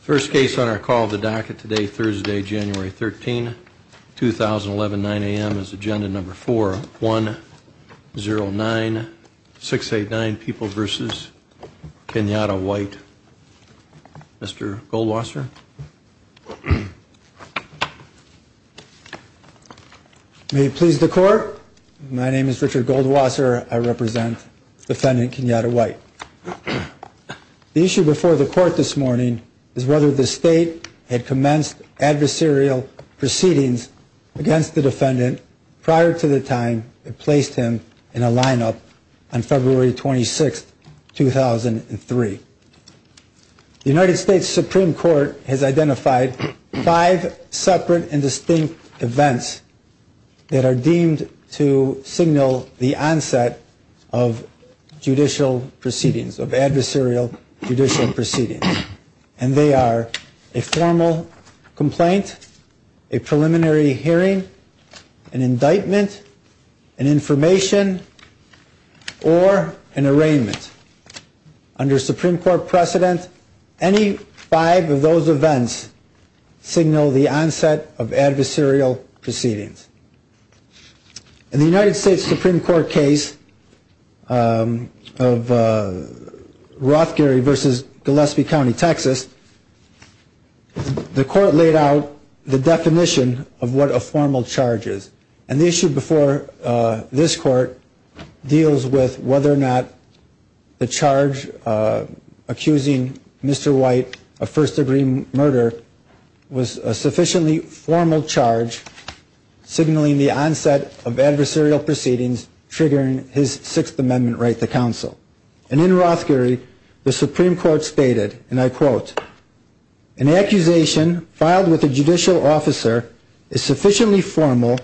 First case on our call of the docket today, Thursday, January 13, 2011, 9 a.m. is agenda number 4109689, People v. Kenyatta White. Mr. Goldwasser. May it please the court. My name is Richard Goldwasser. I represent defendant Kenyatta White. The issue before the court this morning is whether the state had commenced adversarial proceedings against the defendant prior to the time it placed him in a lineup on February 26, 2003. The United States Supreme Court has identified five separate and distinct events that are deemed to signal the onset of judicial proceedings, of adversarial judicial proceedings. And they are a formal complaint, a preliminary hearing, an indictment, an information, or an arraignment. Under Supreme Court precedent, any five of those events signal the onset of adversarial proceedings. In the United States Supreme Court case of Rothgary v. Gillespie County, Texas, the court laid out the definition of what a formal charge is. And the issue before this court deals with whether or not the charge accusing Mr. White of first degree murder was a sufficiently formal charge signaling the onset of adversarial proceedings triggering his Sixth Amendment right to counsel. And in Rothgary, the Supreme Court stated, and I quote, an accusation filed with a judicial officer is sufficiently formal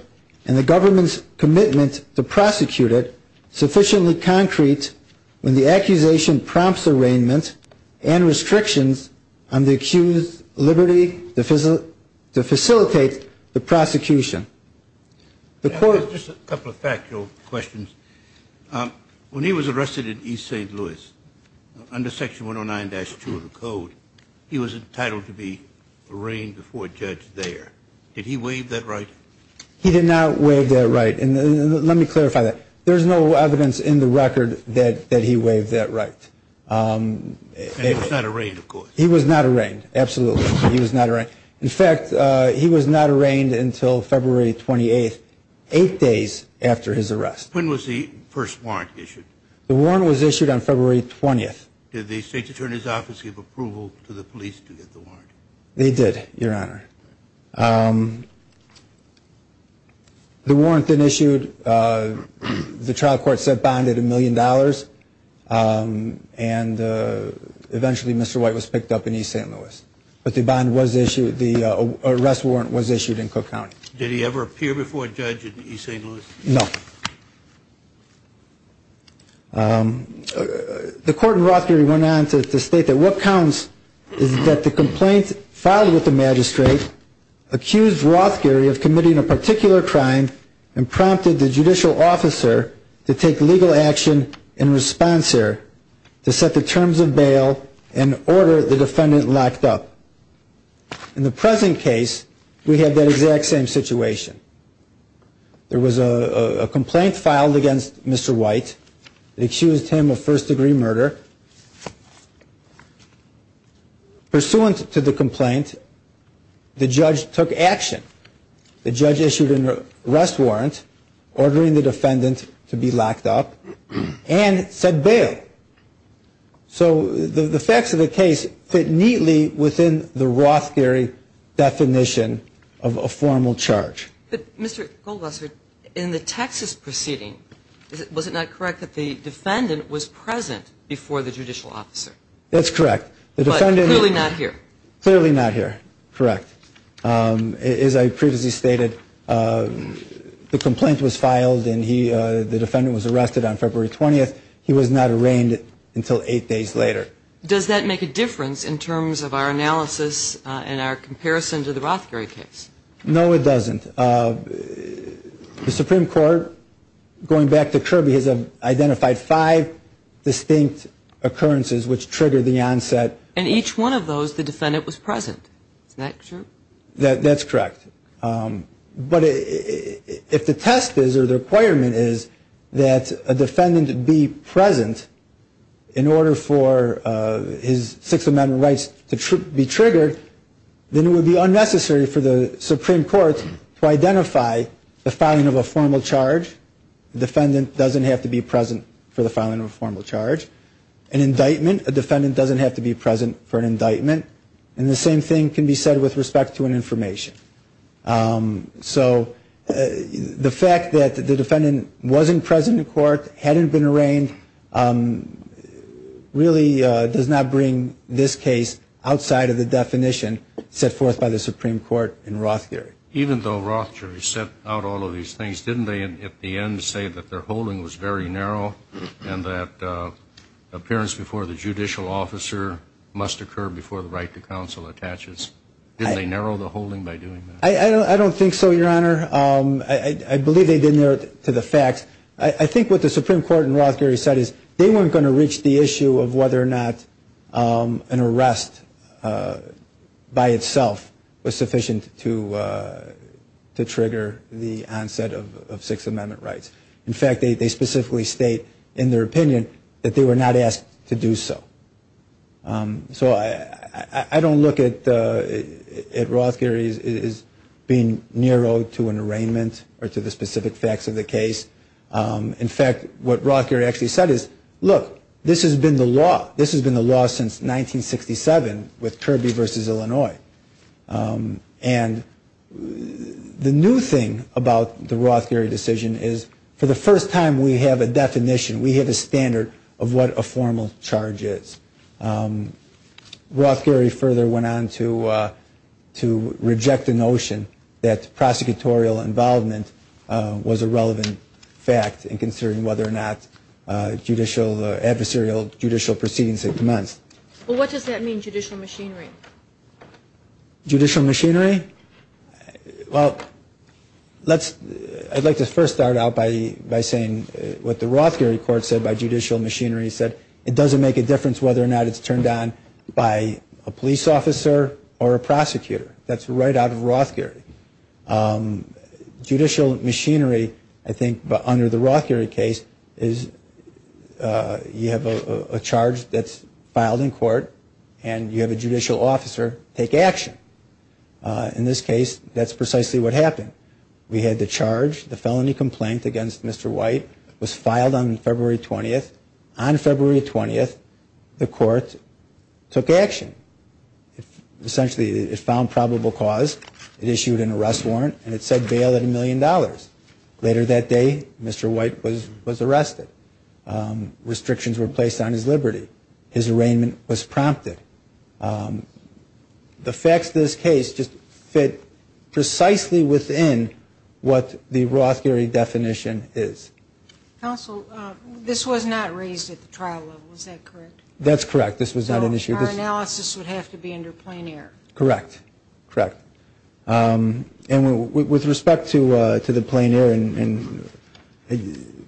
and the government's commitment to prosecute it sufficiently concrete when the accusation prompts arraignment and restrictions on the accused's liberty to facilitate the prosecution. The court- Just a couple of factual questions. When he was arrested in East St. Louis under Section 109-2 of the code, he was entitled to be arraigned before a judge there. Did he waive that right? He did not waive that right. And let me clarify that. There's no evidence in the record that he waived that right. And he was not arraigned, of course. He was not arraigned, absolutely. He was not arraigned. In fact, he was not arraigned until February 28th, eight days after his arrest. When was the first warrant issued? The warrant was issued on February 20th. Did the State's Attorney's Office give approval to the police to get the warrant? They did, Your Honor. The warrant then issued, the trial court said bonded a million dollars and eventually Mr. White was picked up in East St. Louis. But the bond was issued, the arrest warrant was issued in Cook County. Did he ever appear before a judge in East St. Louis? No. The court in Rothgerry went on to state that what counts is that the complaint filed with the magistrate accused Rothgerry of committing a particular crime and prompted the judicial officer to take legal action in response there to set the terms of bail and order the defendant locked up. In the present case, we have that exact same situation. There was a complaint filed against Mr. White that accused him of first degree murder. Pursuant to the complaint, the judge took action. The judge issued an arrest warrant ordering the defendant to be locked up and set bail. So the facts of the case fit neatly within the Rothgerry definition of a formal charge. But Mr. Goldwasser, in the Texas proceeding, was it not correct that the defendant was present before the judicial officer? That's correct. But clearly not here. Clearly not here, correct. As I previously stated, the complaint was filed and the defendant was arrested on February 20th. He was not arraigned until eight days later. Does that make a difference in terms of our analysis and our comparison to the Rothgerry case? No, it doesn't. The Supreme Court, going back to Kirby, has identified five distinct occurrences which triggered the onset. And each one of those, the defendant was present. Isn't that true? That's correct. But if the test is or the requirement is that a defendant be present in order for his Sixth Amendment rights to be triggered, then it would be unnecessary for the Supreme Court to identify the filing of a formal charge. The defendant doesn't have to be present for the filing of a formal charge. An indictment, a defendant doesn't have to be present for an indictment. And the same thing can be said with respect to an information. So the fact that the defendant wasn't present in court, hadn't been arraigned, really does not bring this case outside of the definition set forth by the Supreme Court in Rothgerry. Even though Rothgerry set out all of these things, didn't they at the end say that their holding was very narrow and that appearance before the judicial officer must occur before the right to counsel attaches? Didn't they narrow the holding by doing that? I don't think so, Your Honor. I believe they didn't narrow it to the facts. I think what the Supreme Court in Rothgerry said is they weren't going to reach the issue of whether or not an arrest by itself was sufficient to trigger the onset of Sixth Amendment rights. In fact, they specifically state in their opinion that they were not asked to do so. So I don't look at Rothgerry as being narrow to an arraignment or to the specific facts of the case. In fact, what Rothgerry actually said is, look, this has been the law. This has been the law since 1967 with Kirby v. Illinois. And the new thing about the Rothgerry decision is for the first time we have a definition, we have a standard of what a formal charge is. Rothgerry further went on to reject the notion that prosecutorial involvement was a relevant fact in considering whether or not adversarial judicial proceedings had commenced. Well, what does that mean, judicial machinery? Judicial machinery? Well, I'd like to first start out by saying what the Rothgerry court said by judicial machinery. It said it doesn't make a difference whether or not it's turned on by a police officer or a prosecutor. That's right out of Rothgerry. Judicial machinery, I think, under the Rothgerry case is you have a charge that's filed in court and you have a judicial officer take action. In this case, that's precisely what happened. We had the charge, the felony complaint against Mr. White was filed on February 20th. On February 20th, the court took action. Essentially, it found probable cause, it issued an arrest warrant, and it said bail at $1 million. Later that day, Mr. White was arrested. Restrictions were placed on his liberty. His arraignment was prompted. The facts of this case just fit precisely within what the Rothgerry definition is. Counsel, this was not raised at the trial level, is that correct? That's correct. This was not an issue. Our analysis would have to be under plein air. Correct. Correct. With respect to the plein air, I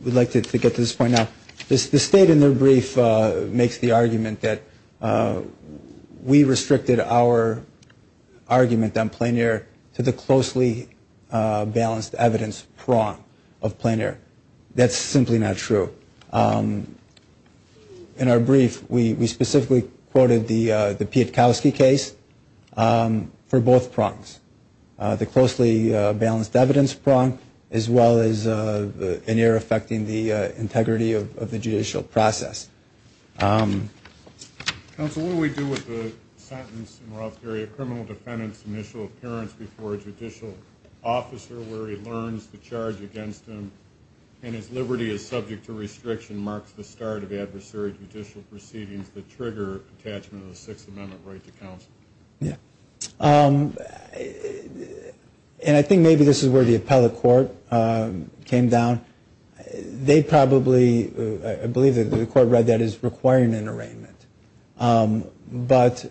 would like to get to this point now. The state in their brief makes the argument that we restricted our argument on plein air to the closely balanced evidence prong of plein air. That's simply not true. In our brief, we specifically quoted the Pietkowski case for both prongs, the closely balanced evidence prong as well as plein air affecting the integrity of the judicial process. Counsel, what do we do with the sentence in Rothgerry, a criminal defendant's initial appearance before a judicial officer where he learns the charge against him, and his liberty is subject to restriction marks the start of adversary judicial proceedings that trigger attachment of the Sixth Amendment right to counsel? Yeah. And I think maybe this is where the appellate court came down. They probably, I believe the court read that, is requiring an arraignment. But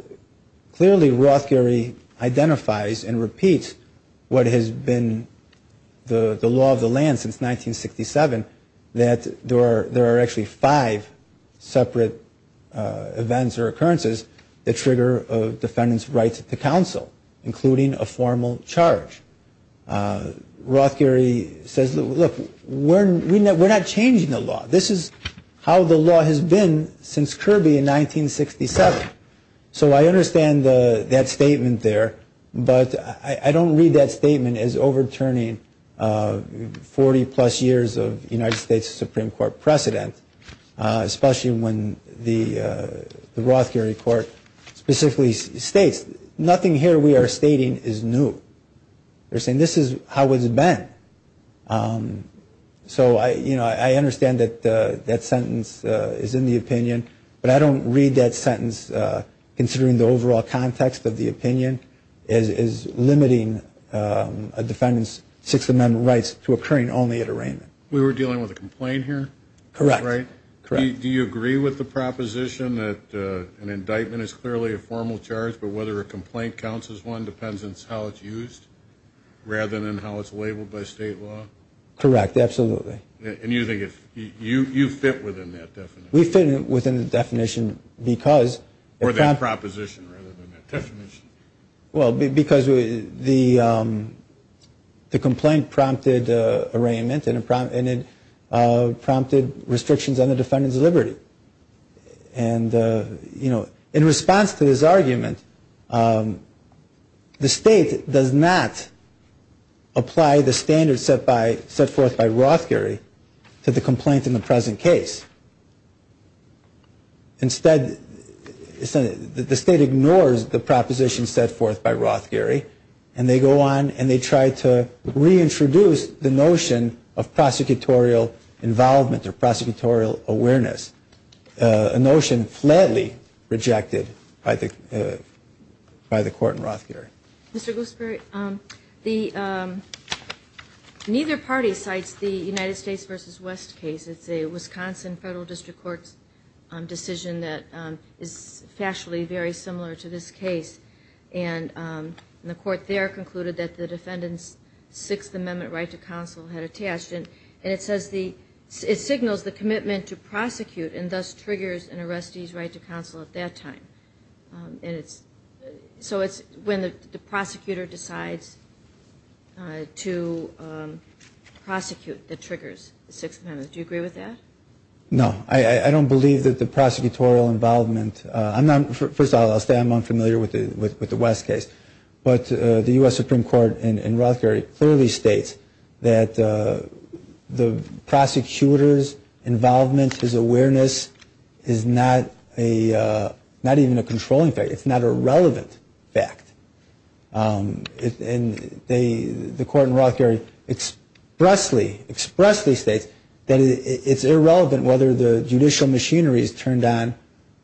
clearly Rothgerry identifies and repeats what has been the law of the land since 1967, that there are actually five separate events or occurrences that trigger a defendant's right to counsel, including a formal charge. Rothgerry says, look, we're not changing the law. This is how the law has been since Kirby in 1967. So I understand that statement there, but I don't read that statement as overturning 40-plus years of United States Supreme Court precedent, especially when the Rothgerry court specifically states, nothing here we are stating is new. They're saying this is how it's been. So I understand that that sentence is in the opinion, but I don't read that sentence considering the overall context of the opinion as limiting a defendant's Sixth Amendment rights to occurring only at arraignment. We were dealing with a complaint here? Correct. Do you agree with the proposition that an indictment is clearly a formal charge, but whether a complaint counts as one depends on how it's used, rather than how it's labeled by state law? Correct, absolutely. And you think you fit within that definition? We fit within the definition because... Or that proposition rather than that definition. Well, because the complaint prompted arraignment and it prompted restrictions on the defendant's liberty. And, you know, in response to this argument, the state does not apply the standards set forth by Rothgerry to the complaint in the present case. Instead, the state ignores the proposition set forth by Rothgerry and they go on and they try to reintroduce the notion of prosecutorial involvement or prosecutorial awareness, which is a notion flatly rejected by the court in Rothgerry. Mr. Goosbury, neither party cites the United States v. West case. It's a Wisconsin Federal District Court decision that is factually very similar to this case. And the court there concluded that the defendant's Sixth Amendment right to counsel had attached. And it says the... It signals the commitment to prosecute and thus triggers an arrestee's right to counsel at that time. And it's... So it's when the prosecutor decides to prosecute that triggers the Sixth Amendment. Do you agree with that? No. I don't believe that the prosecutorial involvement... First of all, I'll stay among familiar with the West case. But the U.S. Supreme Court in Rothgerry clearly states that the prosecutor's involvement, his awareness, is not a... Not even a controlling fact. It's not a relevant fact. And they... The court in Rothgerry expressly states that it's irrelevant whether the judicial machinery is turned on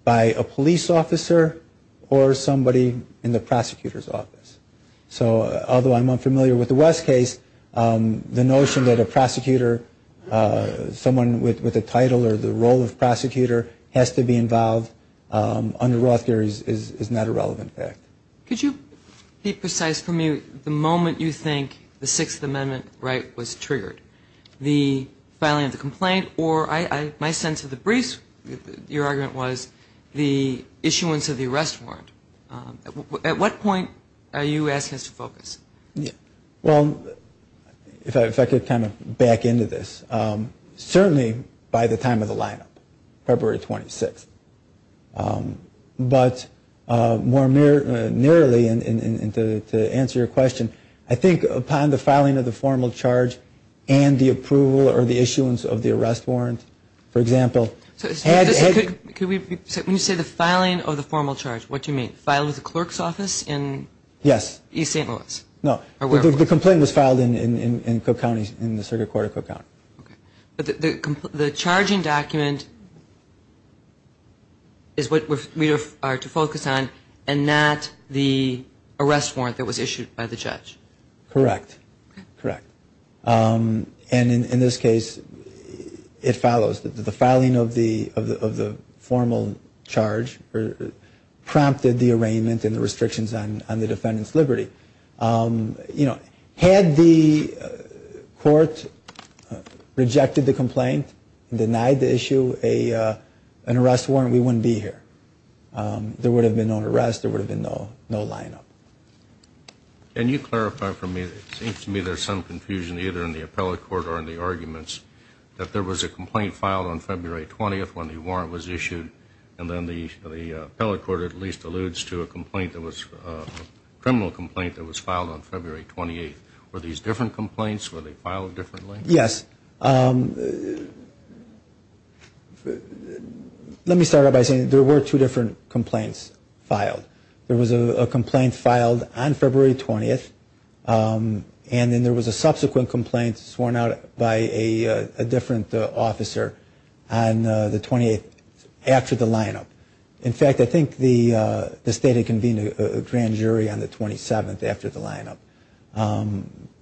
by a police officer or somebody in the prosecutor's office. So although I'm unfamiliar with the West case, the notion that a prosecutor, someone with a title or the role of prosecutor, has to be involved under Rothgerry's is not a relevant fact. Could you be precise for me? The moment you think the Sixth Amendment right was triggered, the filing of the complaint, or my sense of the briefs, your argument was the issuance of the arrest warrant. At what point are you asking us to focus? Well, if I could kind of back into this. Certainly by the time of the lineup, February 26th. But more nearly, and to answer your question, I think upon the filing of the formal charge and the approval or the issuance of the arrest warrant, for example... Could we... When you say the filing of the formal charge, what do you mean? Filed at the clerk's office in... No, the complaint was filed in Cook County, in the Circuit Court of Cook County. But the charging document is what we are to focus on and not the arrest warrant that was issued by the judge. Correct, correct. And in this case, it follows that the filing of the formal charge prompted the arraignment and the restrictions on the defendant's liberty. You know, had the court rejected the complaint and denied the issue an arrest warrant, we wouldn't be here. There would have been no arrest. There would have been no lineup. Can you clarify for me? It seems to me there's some confusion either in the appellate court or in the arguments that there was a complaint filed on February 20th when the warrant was issued and then the appellate court at least alludes to a criminal complaint that was filed on February 28th. Were these different complaints? Were they filed differently? Yes. Let me start out by saying there were two different complaints filed. There was a complaint filed on February 20th and then there was a subsequent complaint sworn out by a different officer on the 28th after the lineup. In fact, I think the state had convened a grand jury on the 27th after the lineup.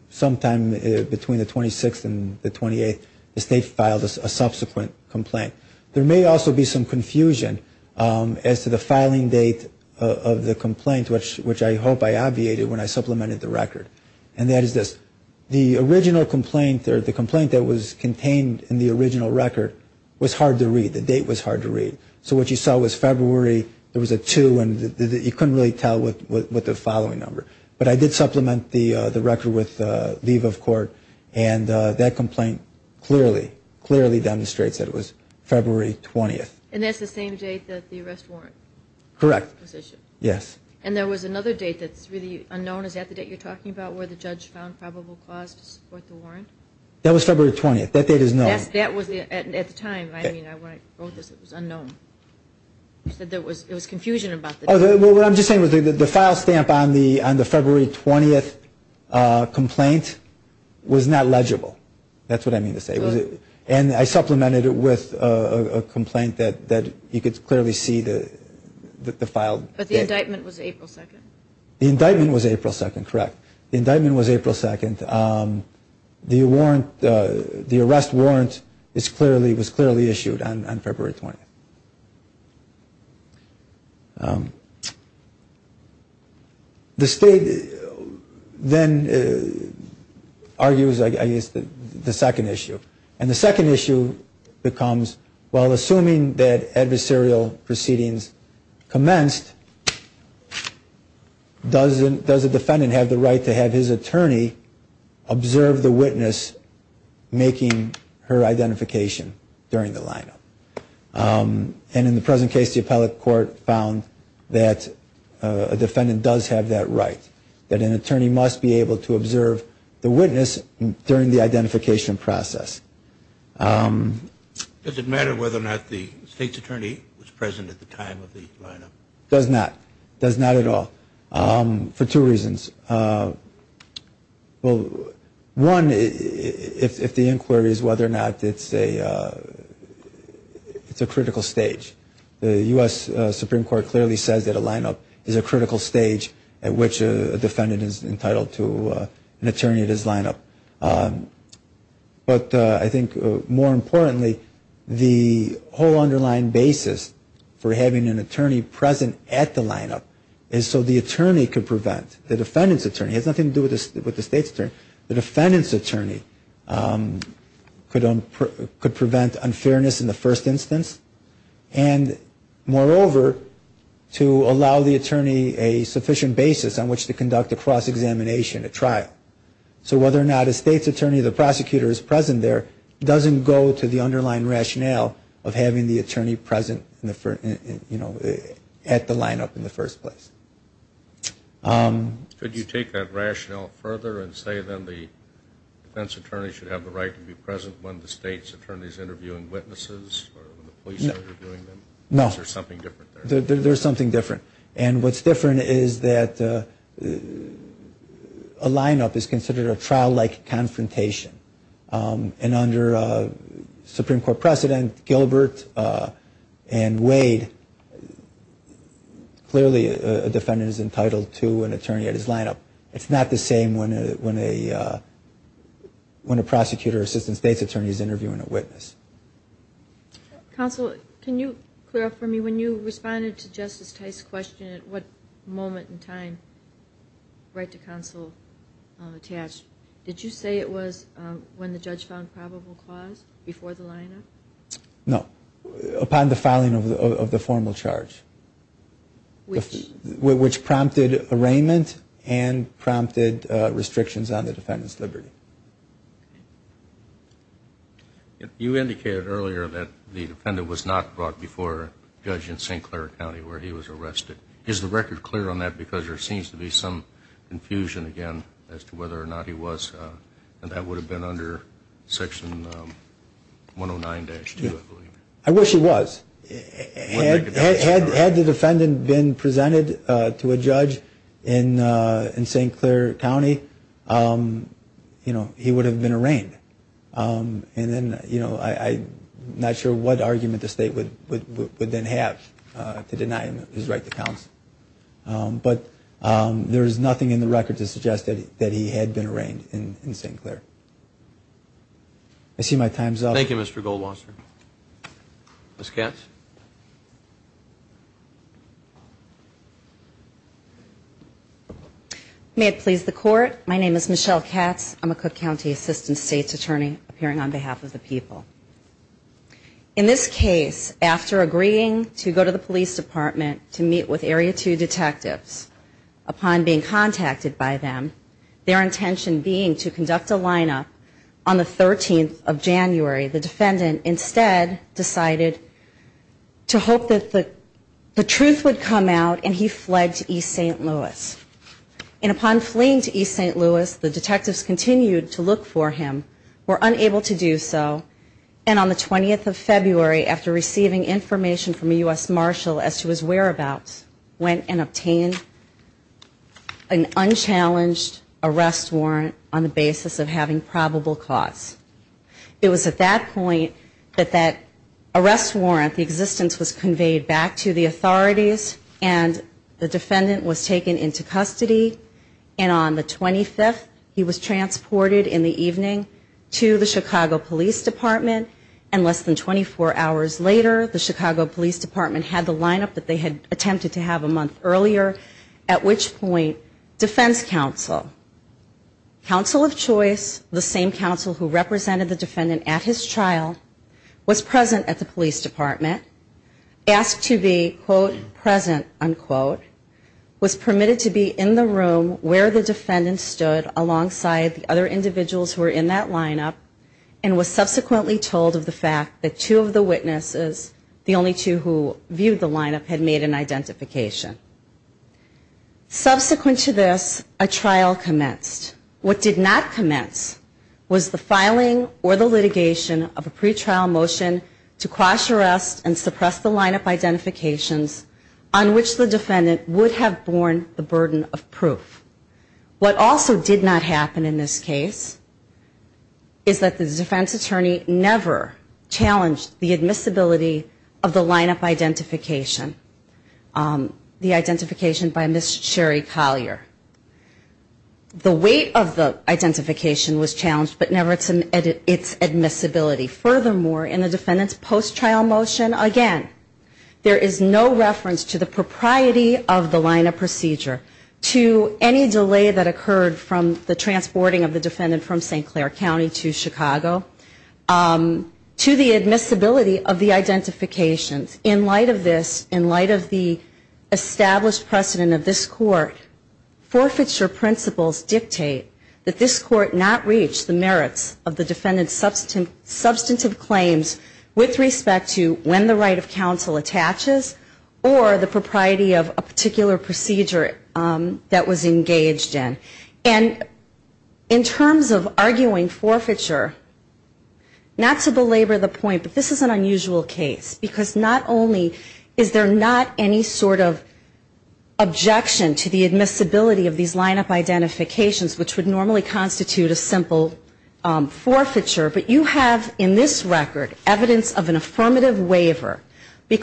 Sometime between the 26th and the 28th, the state filed a subsequent complaint. There may also be some confusion as to the filing date of the complaint which I hope I obviated when I supplemented the record. And that is this. that was contained in the original record was hard to read. The date was hard to read. So what you saw was February, there was a two and you couldn't really tell with the following number. But I did supplement the record with leave of court and that complaint clearly, clearly demonstrates that it was February 20th. And that's the same date that the arrest warrant was issued? Correct. Yes. And there was another date that's really unknown. Is that the date you're talking about where the judge found probable cause to support the warrant? That was February 20th. That date is known. Yes, that was at the time. When I wrote this, it was unknown. You said there was confusion about the date. What I'm just saying is the file stamp on the February 20th complaint was not legible. That's what I mean to say. And I supplemented it with a complaint that you could clearly see the file. But the indictment was April 2nd? The indictment was April 2nd, correct. The indictment was April 2nd. And the warrant, the arrest warrant was clearly issued on February 20th. The state then argues, I guess, the second issue. And the second issue becomes, well, assuming that adversarial proceedings commenced, does the defendant have the right to have his attorney observe the witness making her identification during the lineup? And in the present case, the appellate court found that a defendant does have that right. That an attorney must be able to observe the witness during the identification process. Does it matter whether or not the state's attorney was present at the time of the lineup? Does not. Does not at all. For two reasons. Well, one, if the inquiry is whether or not it's a it's a critical stage. The U.S. Supreme Court clearly says that a lineup is a critical stage at which a defendant is entitled to an attorney at his lineup. But I think more importantly, the whole underlying basis for having an attorney present at the lineup is so the attorney could prevent unfairness in the first instance. And moreover, to allow the attorney a sufficient basis on which to conduct a cross-examination, a trial. So whether or not a state's attorney, the prosecutor, is present there at the lineup in the first place. Could you say that the U.S. Supreme Court is not a is not a should you take that rationale further and say then the defense attorney should have the right to be present when the state's attorney is interviewing witnesses or when the police are interviewing them? No. There's something different there. There's something different. And what's different is that a lineup is considered a trial-like confrontation. And under Supreme Court precedent, Gilbert and Wade, clearly, a defendant is entitled to an attorney at his lineup. It's not the same when a prosecutor or assistant state's attorney is interviewing a witness. Counsel, can you clear up for me, when you responded to Justice Tice's question at what moment in time right to counsel attached, did you say it was when the judge found probable cause before the lineup? No. Upon the filing of the formal charge. Which? Which prompted arraignment and prompted restrictions on the defendant's liberty. You indicated earlier that the defendant was not brought before a judge in St. Clair County where he was arrested. Is the record clear on that because there seems to be some confusion, again, as to whether or not he was, and that would have been under section 109-2, I believe. I wish he was. Had the defendant been presented to a judge in St. Clair County, you know, he would have been arraigned. And then, you know, I'm not sure what argument the state would then have to deny him his right to counsel. But there is nothing in the record to suggest that he had been arraigned in St. Clair. I see my time's up. Thank you, Mr. Goldwasser. Ms. Katz? May it please the court. My name is Michelle Katz. I'm a Cook County Assistant State's Attorney appearing on behalf of the people. In this case, after agreeing to go to the police department to meet with Area 2 detectives, upon being contacted by them, their intention being to conduct a lineup on the 13th of January, the defendant instead decided to hope that the truth would come out and he finally fled to East St. Louis. And upon fleeing to East St. Louis, the detectives continued to look for him, were unable to do so, and on the 20th of February, after receiving information from a U.S. Marshal as to his whereabouts, went and obtained an unchallenged arrest warrant on the basis of having probable cause. It was at that point that that arrest warrant, the existence was conveyed back to the authorities and the defendant was taken into custody and on the 25th, he was transported in the evening to the Chicago Police Department and less than 24 hours later, the Chicago Police Department had the lineup that they had attempted to have a month earlier, at which point, defense counsel, counsel of choice, the same counsel who represented the defendant at his trial, was present at the police department, asked to be, quote, present, unquote, was permitted to be in the room where the defendant stood alongside the other individuals who were in that lineup and was subsequently told of the fact that two of the witnesses, the only two who viewed the lineup, had made an identification. Subsequent to this, a trial commenced. What did not commence was the filing or the litigation of a pretrial motion to cross arrest and suppress the lineup identifications on which the defendant would have borne the burden of proof. What also did not happen in this case is that the defense attorney never challenged the admissibility of the lineup procedure in the defendant's post-trial motion. Again, there is no reference to the propriety of the lineup procedure, to any delay that occurred from the transporting of the defendant from St. Clair County to Chicago, to the admissibility of the identifications. In light of this, in light of the established precedent of this court, forfeiture principles dictate that this court not reach the merits of the defendant's substantive claims with respect to when the right of counsel attaches, or the propriety of a particular procedure that was engaged in. And in terms of arguing forfeiture, not to belabor the point, but this is an unusual case because not only is there not any sort of objection to the admissibility of these lineup identifications, which would normally constitute a simple forfeiture, but you have in this record evidence of an affirmative case, and the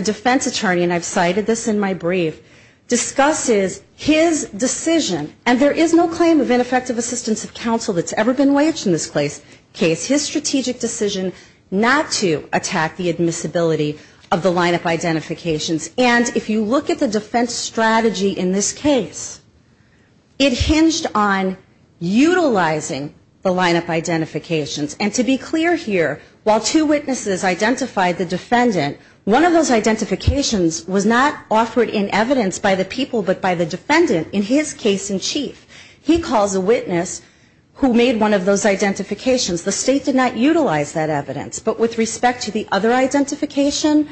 defense attorney, and I've cited this in my brief, discusses his decision, and there is no claim of ineffective assistance of counsel that's ever been waged in this case, his strategic decision not to attack the admissibility of the lineup identifications. And if you look at the defense strategy in this case, it hinged on utilizing the lineup identifications. And to be clear here, while two witnesses identified the one of those identifications was not offered in evidence by the people but by the defendant in his case in chief. He calls a witness who made one of those identifications. The state did not utilize that evidence, but with respect to the other identification,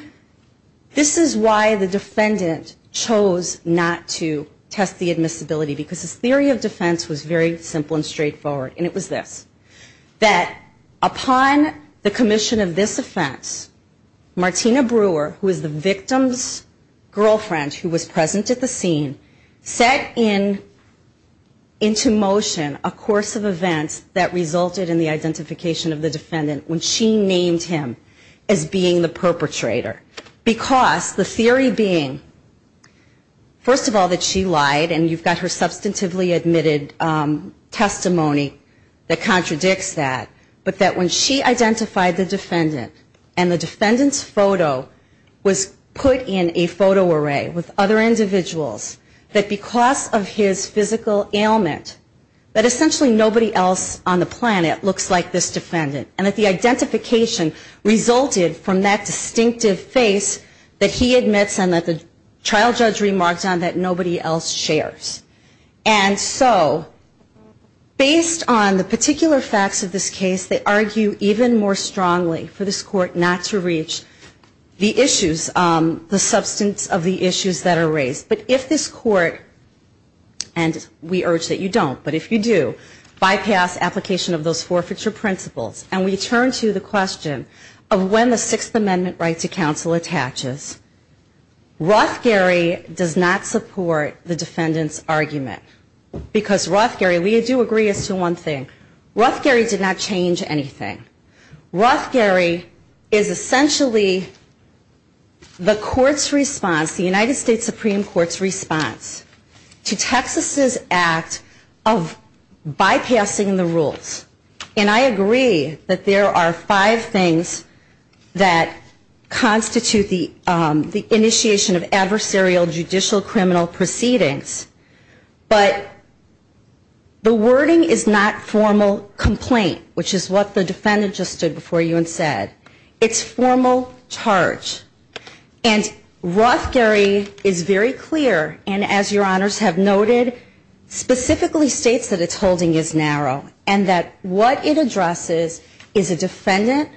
this is why the defendant chose not to test the admissibility because his theory of defense was very simple and straightforward. And it was this, that upon the commission of this offense, Martina Brewer, who is the victim's girlfriend, who was present at the scene, set into motion a course of events that resulted in the identification of the defendant when she named him as being the perpetrator. Because the theory being, first of all, that she lied and you've got her substantively admitted testimony that contradicts that, but that when she identified the defendant and the defendant's photo was put in a photo array with other individuals, that because of his physical ailment, that essentially nobody else on the planet looks like this defendant and that the identification resulted from that distinctive face that he admits and that the trial judge remarked on that nobody else shares. And so based on the particular facts of this case, they argue even more strongly for this court not to reach the issues, the substance of the issues that are raised. But if this court, and we urge that you don't, but if you do, bypass application of those forfeiture principles and we turn to the question of when the Sixth Amendment Right to Counsel attaches, Rothgerry does not support the defendant's argument because Rothgerry, we do agree as to one thing, Rothgerry did not change anything. Rothgerry is essentially the court's response, the United States Supreme Court's response to Texas's act of bypassing the rules. And I agree that there are five things that constitute the initiation of adversarial judicial criminal proceedings, but the wording is not formal complaint, which is what the defendant just stood before you and said. It's formal charge. And Rothgerry is very clear and, as your honors have noted, specifically states that its holding is narrow and that what it addresses is a defendant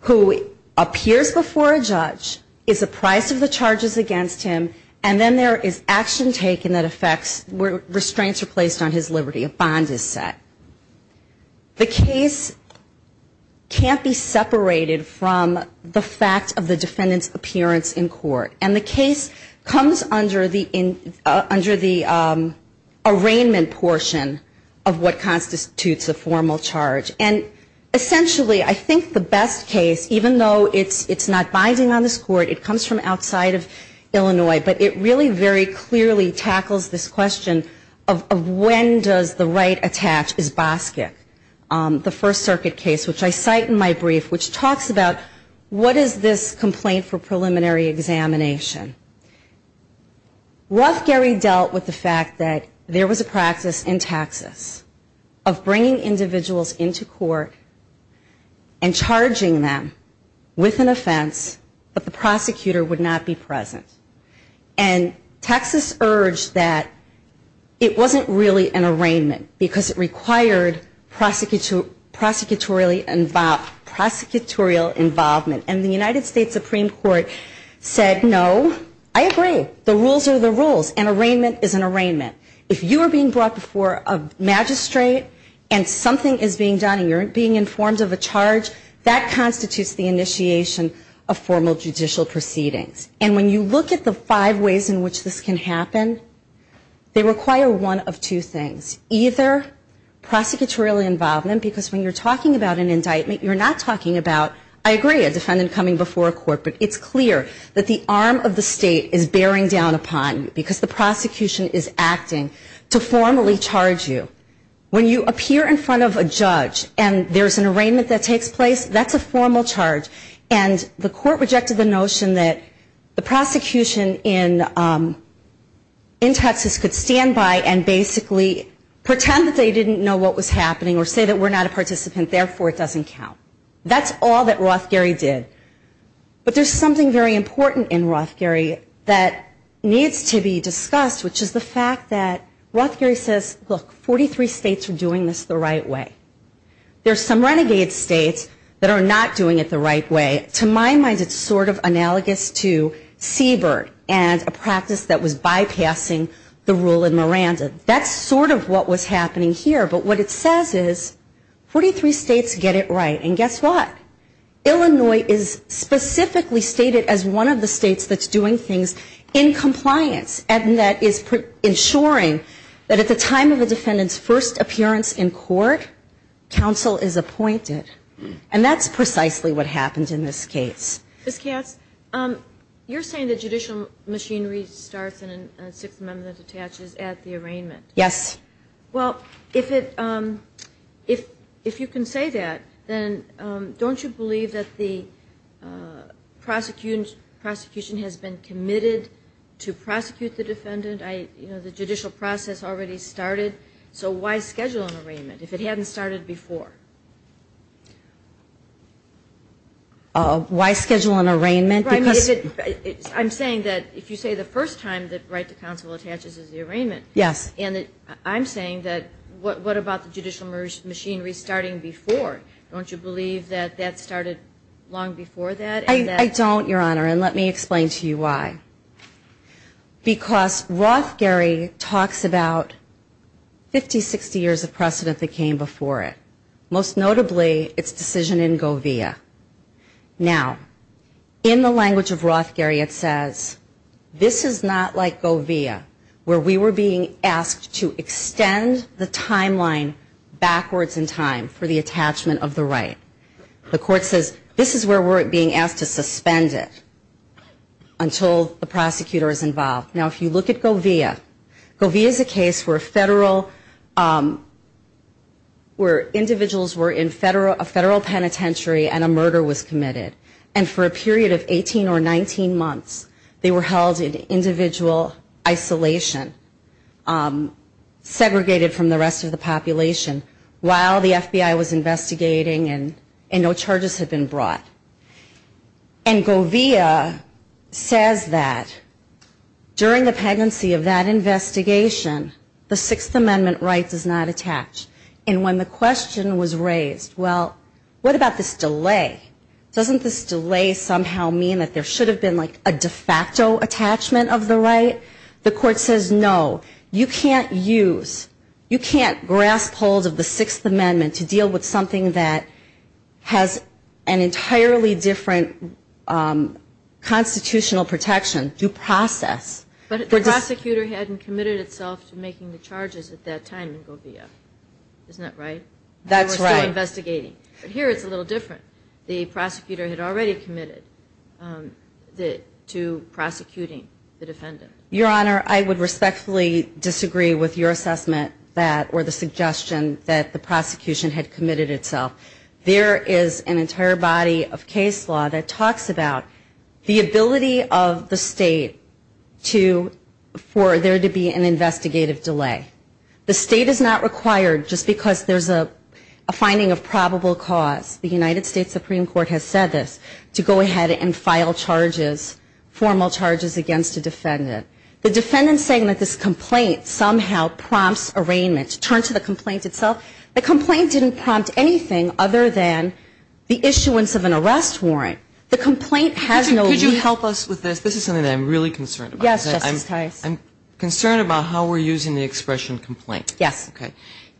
who appears before a judge, is apprised of the charges against him, and then there is action taken that affects, restraints are placed on his liberty, a bond is set. The case can't be separated from the fact of the defendant's appearance in court. And the case comes under the arraignment portion of what constitutes a formal charge. And essentially, I think the best case, even though it's not binding on this court, it comes from outside of Illinois, but it really very clearly tackles this question of when does the right attach, is Boskic, the First Circuit case, which I cite in my brief, which talks about what is this complaint for preliminary individuals into court and charging them with an offense but the prosecutor would not be present. And Texas urged that it wasn't really an arraignment because it required prosecutorial involvement and the United States Supreme Court said no, I agree, the rules are the rules, an arraignment is an arraignment. If you are being brought before a magistrate and something is being done and you are being informed of a charge, that constitutes the initiation of formal judicial proceedings. And when you look at the five ways in which this can happen, they require one of two things, either prosecutorial involvement because when you are talking about an indictment, you are not talking about, I agree, a defendant coming before a judge and talking about an arraignment because the prosecution is acting to formally charge you. When you appear in front of a judge and there is an arraignment that takes place, that is a formal charge and the court rejected the notion that the prosecution in Texas could stand by and basically pretend that they didn't know what was happening or say that we are not a participant, therefore it doesn't count. That is all that Rothgerry did. But there is something very important in Rothgerry that needs to be discussed, which is the fact that Rothgerry says, look, 43 states are doing this the right way. There are some renegade states that are not doing it the right way. To my mind, it is sort of analogous to Siebert and a practice that was bypassing the rule in Miranda. That is sort of what was happening here. But what it says is 43 states get it right. And guess what? Illinois is specifically stated as one of the states that is doing things in compliance and that is ensuring that at the time of the defendant's first appearance in court, counsel is appointed. And that is precisely what happens in this case. Ms. Katz, you are saying that judicial machinery starts in a Sixth Amendment that attaches at the arraignment. Yes. Well, if you can say that, then don't you believe that the prosecution has been committed to prosecute the defendant? The judicial process already started. So why schedule an arraignment if it hadn't started before? Why schedule an arraignment? I'm saying that if you say the first time the right to counsel attaches is the arraignment, I'm saying that what about the judicial machinery starting before? Don't you believe that that started long before that? I don't, Your Honor, and let me explain to you why. Because Rothgerry talks about 50, 60 years of precedent that came before it. its decision in Govia. Now, in the language of Rothgerry, it says, this is not like Govia, where we were being asked to extend the timeline backwards in time for the attachment of the right. The court says, this is where we're being asked to suspend it until the prosecutor is involved. Now, if you look at Govia, Govia is a case where individuals were in federal penitentiary and a murder was committed. And for a period of 18 or 19 months, they were held in individual isolation, segregated from the rest of the population while the FBI was investigating them. Now, Govia says that during the pregnancy of that investigation, the Sixth Amendment right does not attach. And when the question was raised, well, what about this delay? Doesn't this delay somehow mean that there should have been a de facto attachment of the right? The court says, no, you can't use, you can't grasp hold of the Sixth Amendment to deal with something that has an entirely different constitutional protection through process. But the hadn't committed itself to making the charges at that time in Govia. Isn't that right? That's right. They were still investigating. But here it's a little different. The prosecutor had already committed to prosecuting the defendant. Your Honor, I would respectfully disagree with your assessment that or the suggestion that the prosecution had committed itself. There is an entire body of case law that talks about the ability of the State to, for there to be an investigative delay. The State is not required just because there's a finding of probable cause. The United States Supreme Court has said this, to go ahead and file charges, formal charges against a defendant. The defendant saying that this complaint somehow prompts arraignment, turned to the complaint itself, the complaint didn't prompt anything other than the issuance of an arrest warrant. The complaint has no case. Can you help us with this? This is something I'm really concerned about. I'm concerned about how we're using the expression complaint.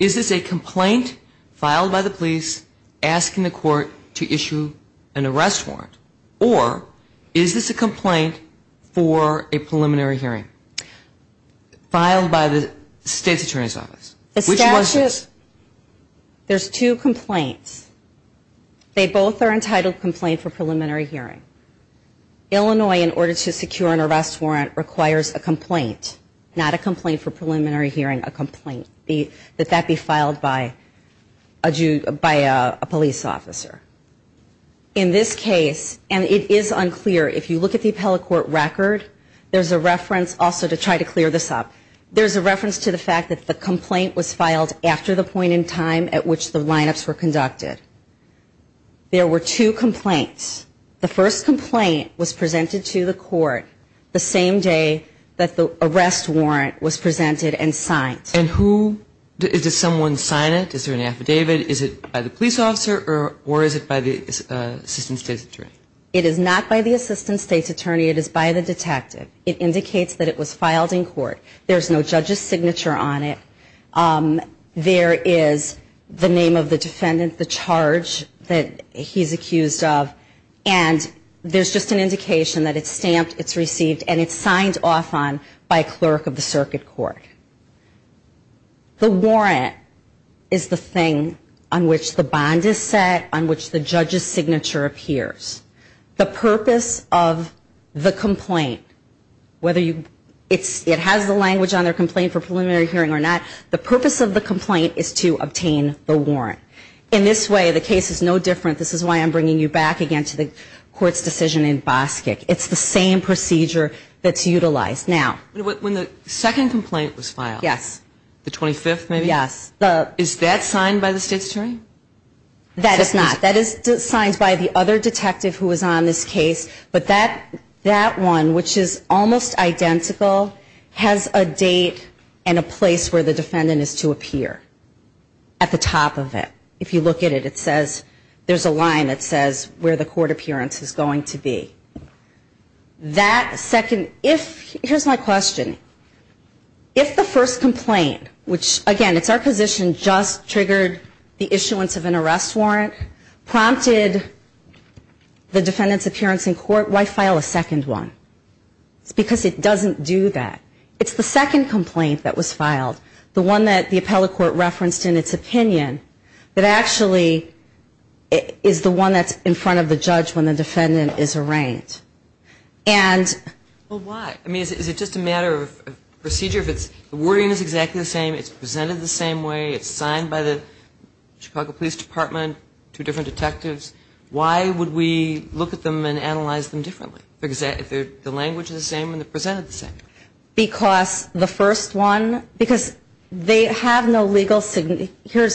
Is this a complaint filed by the police asking the court to issue an arrest warrant or is this a complaint for a preliminary hearing filed by the State's Attorney's Office? There's two complaints. They both are entitled complaint for preliminary hearing. Illinois in order to secure an arrest warrant requires a complaint, not a complaint for preliminary hearing, a complaint that that be filed by a police officer. In this case, and it is unclear, if you look complaint, the complaint was filed after the point in time at which the lineups were conducted. There were two complaints. The first complaint was presented to the court the same day that the arrest warrant was presented and signed. And who did someone sign it? Is there an affidavit? Is it by the police officer? Is there a signature on it? There is the name of the defendant, the charge that he's accused of, and there's just an indication that it's stamped, it's received, signed off on by a clerk of the circuit court. The warrant is the thing on which the bond is set, on which the judge's signature appears. The purpose of the complaint, whether it has the language on their complaint for preliminary hearing or not, the purpose of the complaint is to obtain the warrant. In this way, the case is no different. This is why I'm bringing you back again to the court's decision in Boskick. It's the same procedure that's utilized. Now... When the second complaint was filed, the 25th maybe? Yes. Is that signed by the state's attorney? That is not. That is signed by the other detective who is on this case, but that one, which is almost identical, has a date and a place where the defendant is to appear at the top of it. If you look at it, there's a line that says where the court appearance is going to be. Here's my question. If the first complaint, which, again, it's our position, just triggered the issuance of an arrest warrant, prompted the defendant's appearance in court, why would we file a second one? Because it doesn't do that. It's the second complaint that was filed, the one that the appellate court referenced in its opinion that actually is the one that's in front of the judge when the defendant is arraigned. And why? Is it just a matter of procedure? If the wording is exactly the same, it's presented the same way, it's signed by the Chicago Police Department, two different detectives, why would we look at them and analyze them differently if the language is the same and presented the same? Because the first one, because they have no legal significance in terms of the right to arrest. one, fourth one, the fifth one, the sixth one, the seventh one, the eighth one, the ninth one, and you're saying that the right to counsel doesn't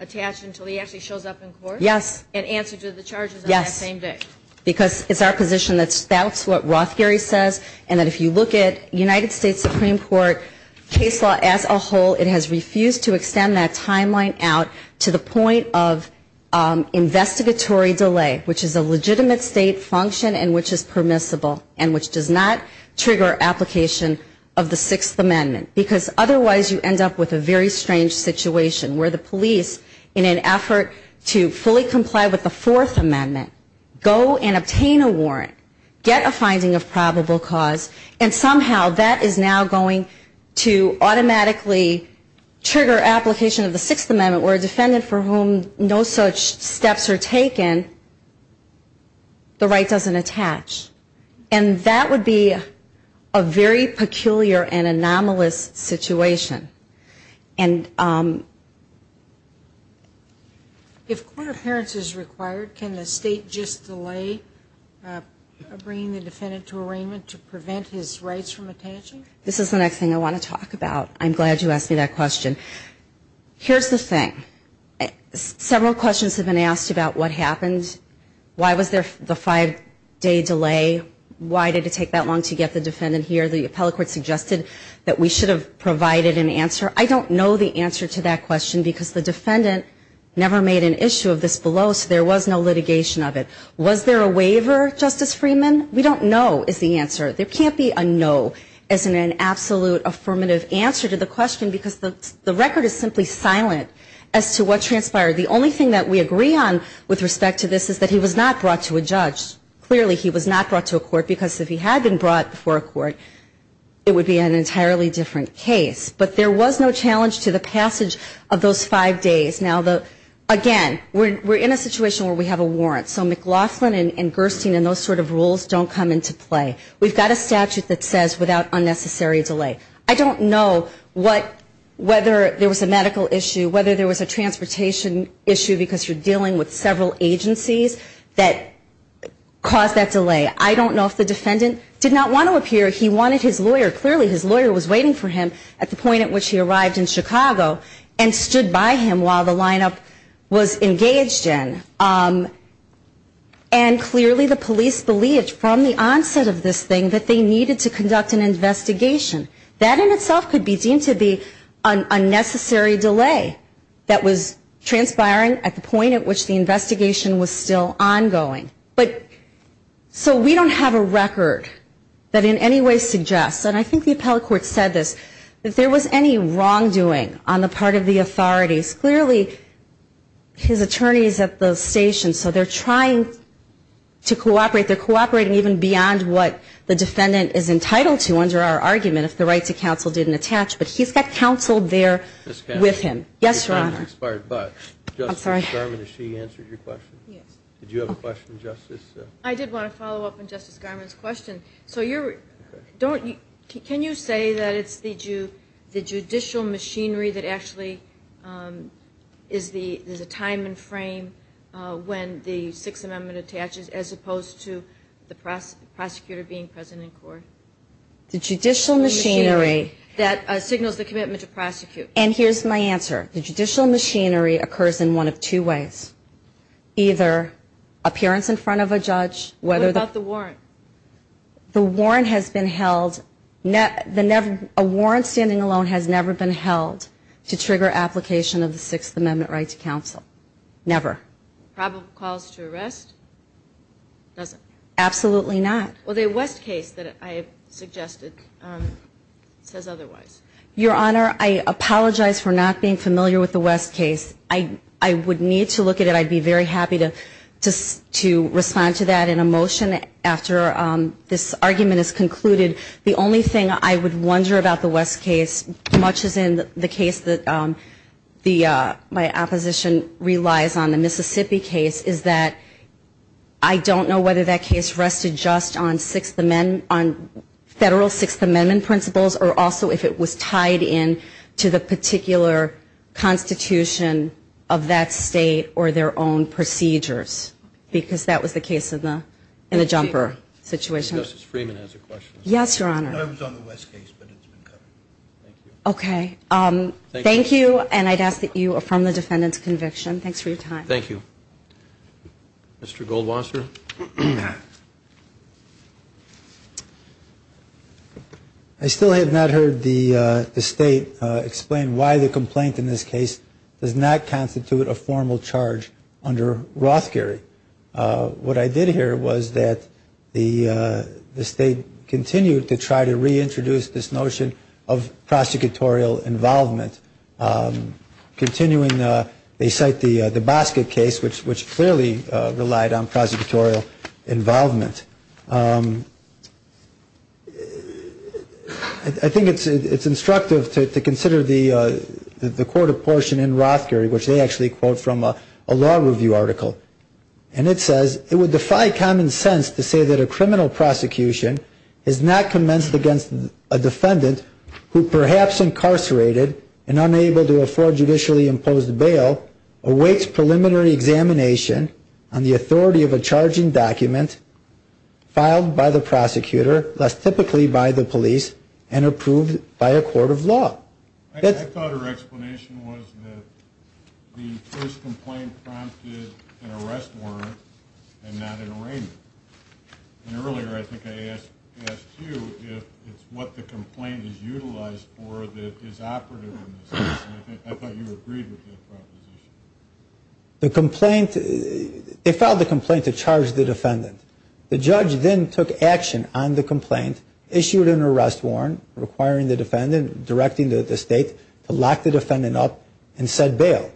attach until he actually shows up in court? Yes. And answer to the charges on that same day? Yes. Because it's our position that's what Rothgary says and if you look at the United States Supreme Court case law as a whole, it has refused to extend that counsel. Otherwise, you end up with a very strange situation where the police in an effort to fully comply with the Fourth Amendment go and obtain a warrant, get a finding of probable cause, and somehow that is now going to automatically trigger application of the Sixth Amendment where a right to not be attached. The right doesn't attach. And that would be a very peculiar and anomalous situation. And if court appearance is required, can the state just delay bringing the defendant to arraignment to prevent his rights from attaching? This is the next thing I want to talk about. I'm glad you asked me that question. Here's the thing. Several questions have been asked about what happened. Why was there the five-day delay? Why did it take that long to get the defendant here? The appellate court suggested that we should have provided an answer. I don't know the answer to that question because the defendant never made an issue of this below, so there was no litigation of it. Was there a waiver, Justice Freeman? We don't know is the answer. There can't be a no as in an absolute affirmative answer to the question because the record is simply silent as to what transpired. The only thing that we agree on with respect to this is that he was not brought to a judge. Clearly he was not brought to a court because if he had been brought to a court, it would be an entirely different case. But there was no challenge to the passage of those five days. Now, again, we're in a situation where we have a warrant, so McLaughlin and Gerstein and those rules don't come into play. We have a statute that says without unnecessary delay. I don't know whether there was a medical issue, whether there was a transportation issue because you're dealing with several agencies that caused that delay. I don't know if the defendant did not want to appear. He wanted his lawyer. Clearly his lawyer was waiting for him at the point at which he arrived in Chicago and stood by him while the lineup was engaged in. And clearly the police believed from the onset of this thing that they needed to conduct an investigation. That in itself could be deemed to be an unnecessary delay that was transpiring at the point at which the investigation was still ongoing. So we don't have a record that in any way suggests, and I think the appellate court said this, that there was any wrongdoing on the part of the authorities. Clearly his attorney is at the station, so they're trying to cooperate. They're cooperating even beyond what the defendant is entitled to under our argument if the right to counsel didn't attach. But he's got counsel there with him. Yes, Your Honor. I'm sorry. Justice Garmon, did she answer your question? Yes. Did you have a question, Justice? I did want to follow up on Justice Garmon's question. Can you say that it's the judicial machinery that actually is the time and frame when the Sixth Amendment attaches as opposed to the prosecutor being present in court? The judicial machinery that signals the commitment to judicial machinery occurs in one of two ways. Either appearance in front of a judge. What about the warrant? The warrant has been held. A warrant standing alone has never been held to trigger application of the Sixth Amendment right to counsel. Never. Probable cause to arrest? Absolutely not. Well, the West case that I suggested says otherwise. Your Honor, I apologize for not being familiar with the West case. I would need to look at it. I'd be very happy to respond to that in a motion after this argument is concluded. The only thing I would wonder about the West case, much as in the case that my opposition relies on the Mississippi case, is that I don't know whether that case rested just on Federal Sixth Amendment principles or also if it was tied in to the particular Constitution of that state or their own procedures. Because that was the case in the Jumper situation. Yes, Your Honor. I was on the West case, but it's been covered. Okay. Thank you, and I'd ask that you affirm the defendant's conviction. Thanks for your time. Thank you. Mr. Goldwasser. I still have not heard the State explain why the complaint in this case does not constitute a formal charge under Rothkerry. What I did hear was that the State continued to try to reintroduce this notion of prosecutorial involvement. Continuing, they cite the Boska case, which clearly relied on prosecutorial involvement. I think it's instructive to consider the court apportion in Rothkerry, which they did not opportunity to do. I'll quote a law review article. It says it would defy common sense to say that a criminal prosecution is not commenced against a defendant who perhaps incarcerated and unable to afford it. The first complaint prompted an arrest warrant and not an arraignment. And earlier I think I asked you if it's what the complaint is utilized for that is operative in this case. And I thought you agreed with that proposition. The complaint, they filed the complaint to charge the defendant. The judge then took action on the complaint, issued an arrest warrant requiring the defendant, directing the state to lock the defendant up and said bail.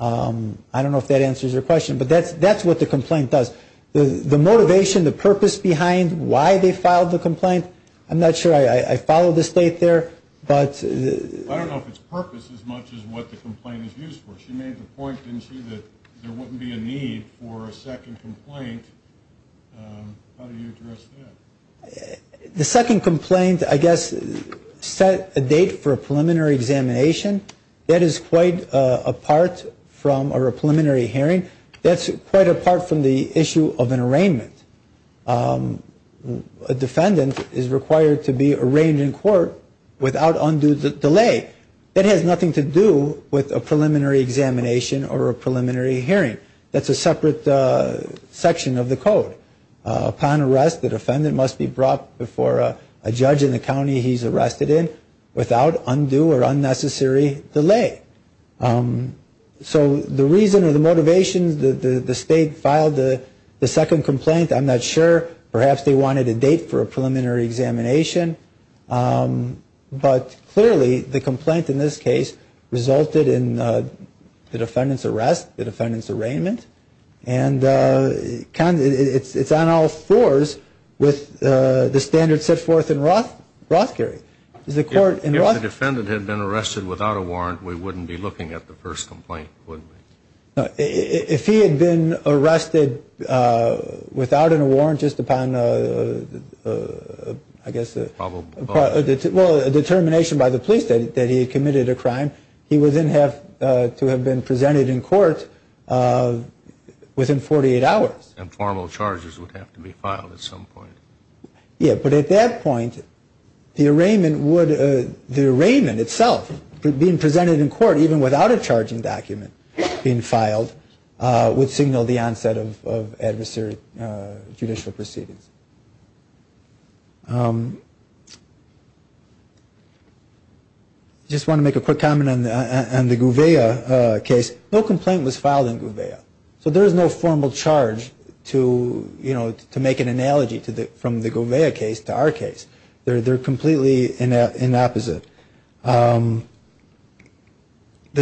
I don't know if that answers your question, but that's what the complaint does. The motivation, the purpose behind why they filed the complaint, I'm not sure I followed the state there. But I don't know if it's purpose as much as what the complaint is used for. She made the point didn't she that there wouldn't be a need for a second complaint. How do you address that? The second complaint, I guess, is set a date for a preliminary examination. That is quite apart from a preliminary hearing. That's quite apart from the issue of an arraignment. A defendant is required to be arraigned in court without undue delay. That has nothing to do with a preliminary examination or a preliminary hearing. That's a separate section of the statute that she's arrested in without undue or unnecessary delay. So the reason or the motivation the state filed the second complaint, I'm not sure, perhaps they wanted a date for a preliminary examination, but clearly the complaint in this case resulted in the defendant's arrest, the defendant's arrest, undue or unnecessary delay. If the defendant had been arrested without a warrant, we wouldn't be looking at the first complaint, would we? If he had been arrested without a warrant, just upon a determination by the police that he had committed a crime, be looking at the first complaint. Yeah, but at that point, the arraignment would, the arraignment itself, being presented in court even without a charging document being filed, would signal the onset of adversary judicial proceedings. I just want to make a quick comment on the Gouveia case. In the Gouveia case, no complaint was filed in Gouveia. So there is no formal charge to, you know, to make an analogy from the Gouveia case to our case. They're completely opposite. The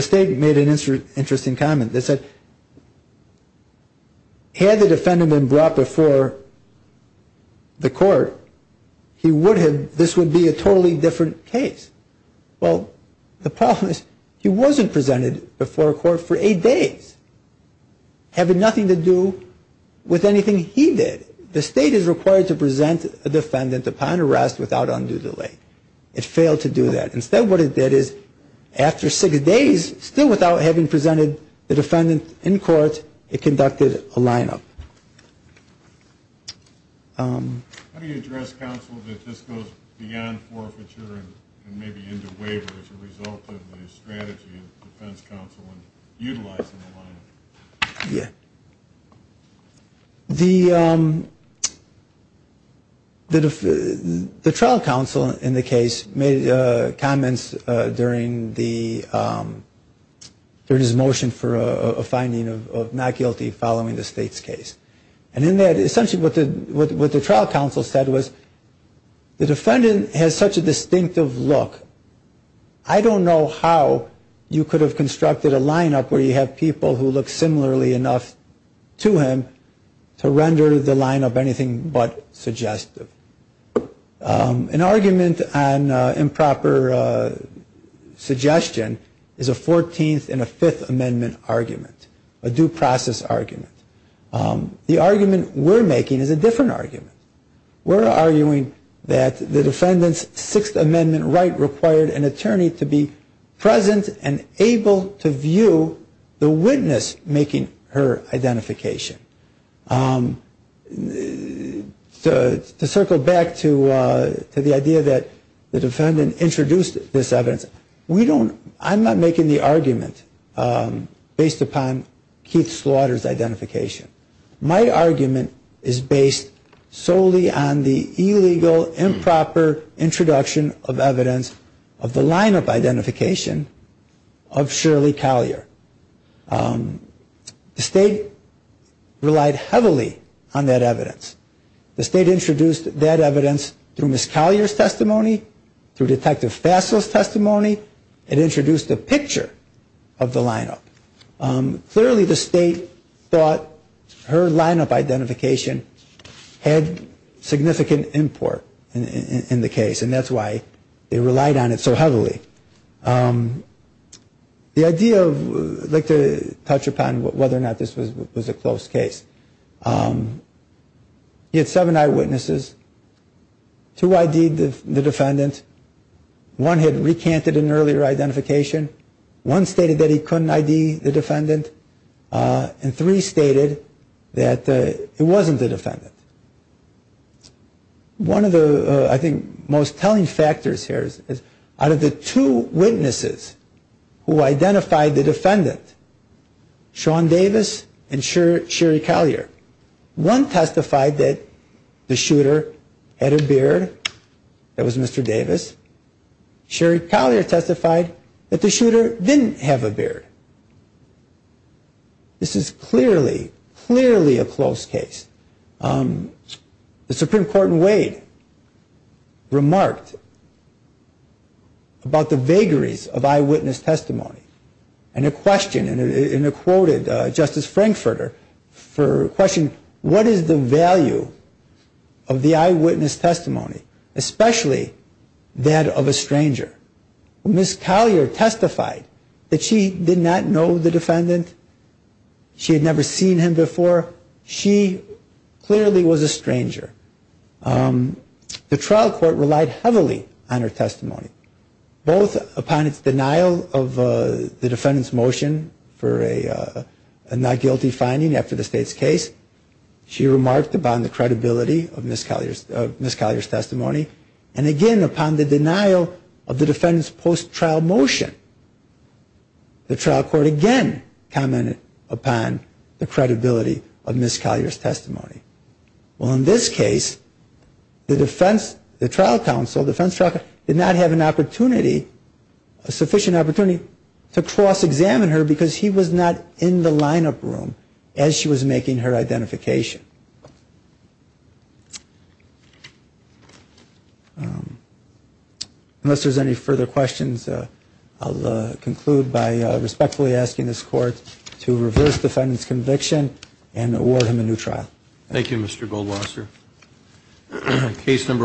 state made an interesting comment. They said, had the defendant been brought before the court, he would have, this would be a totally different case. Well, the problem is he wasn't presented before court for eight days, having nothing to do with anything he did. The state is required to present a defendant upon arrest without undue delay. It failed to do that. Instead, what it did is, after six days, still without having presented the defendant in court, the decision and to make a lineup. How do you address counsel that this goes beyond forfeiture and maybe into waiver as a result of the strategy of defense counsel utilizing the lineup? The trial counsel in the case made comments during the there was a motion for a finding of not guilty following the state's case. And in that, essentially what the trial counsel said was the defendant has such a distinctive look, I don't know how you could have constructed a lineup where you have people who look similarly enough to him to render the lineup anything but suggestive. An argument present on improper suggestion is a 14th and a 5th amendment argument. A due process argument. The argument we're making is a different argument. We're arguing that the defendant's 6th amendment right required an attorney to be present and able to view the witness making her identification. To circle back to the idea that the defendant introduced this evidence, I'm not making the argument based upon Keith Slaughter's identification. My argument is based solely on the illegal improper introduction of evidence of the lineup identification of Shirley Collier. The state relied heavily on that evidence. The state introduced that evidence through Ms. Collier's testimony, through Detective Fassil's testimony. It introduced a picture of the lineup. Clearly the state thought her lineup identification had significant import in the case and that's why they relied on it so heavily. The idea of I'd like to touch upon whether or not this was a close case. He had seven eyewitnesses, two ID'd the defendant, one had recanted an earlier identification, one stated that he couldn't ID the defendant, and three stated that it wasn't the defendant. One of the I think most telling factors here is out of the two witnesses who identified the defendant, Sean Davis and Sherry Collier, one testified that the shooter had a beard, that was Mr. Davis. Sherry Collier testified that the shooter didn't have a beard. This is clearly, clearly a close case. The Supreme Court in Wade remarked about the vagaries of eyewitness testimony, and a question, and it quoted Justice Frankfurter for a question, what is the value of the eyewitness testimony, especially that of a stranger. Ms. Collier testified that she did not know the defendant, she had never seen him before, she clearly was a stranger. The trial court relied heavily on her testimony, both upon its denial of the defendant's motion for a not guilty finding after the state's In this case, she remarked upon the credibility of Ms. Collier's testimony, and again upon the denial of the defendant's post-trial motion. The trial court again commented upon the credibility of Ms. Collier's testimony. Well, in this case, the trial Ms. Collier's testimony, and her identification. Unless there's any further questions, I'll conclude by respectfully asking this court to reverse the defendant's conviction, and award him a new trial. Thank you, Mr. Goldwasser. Case number 109689,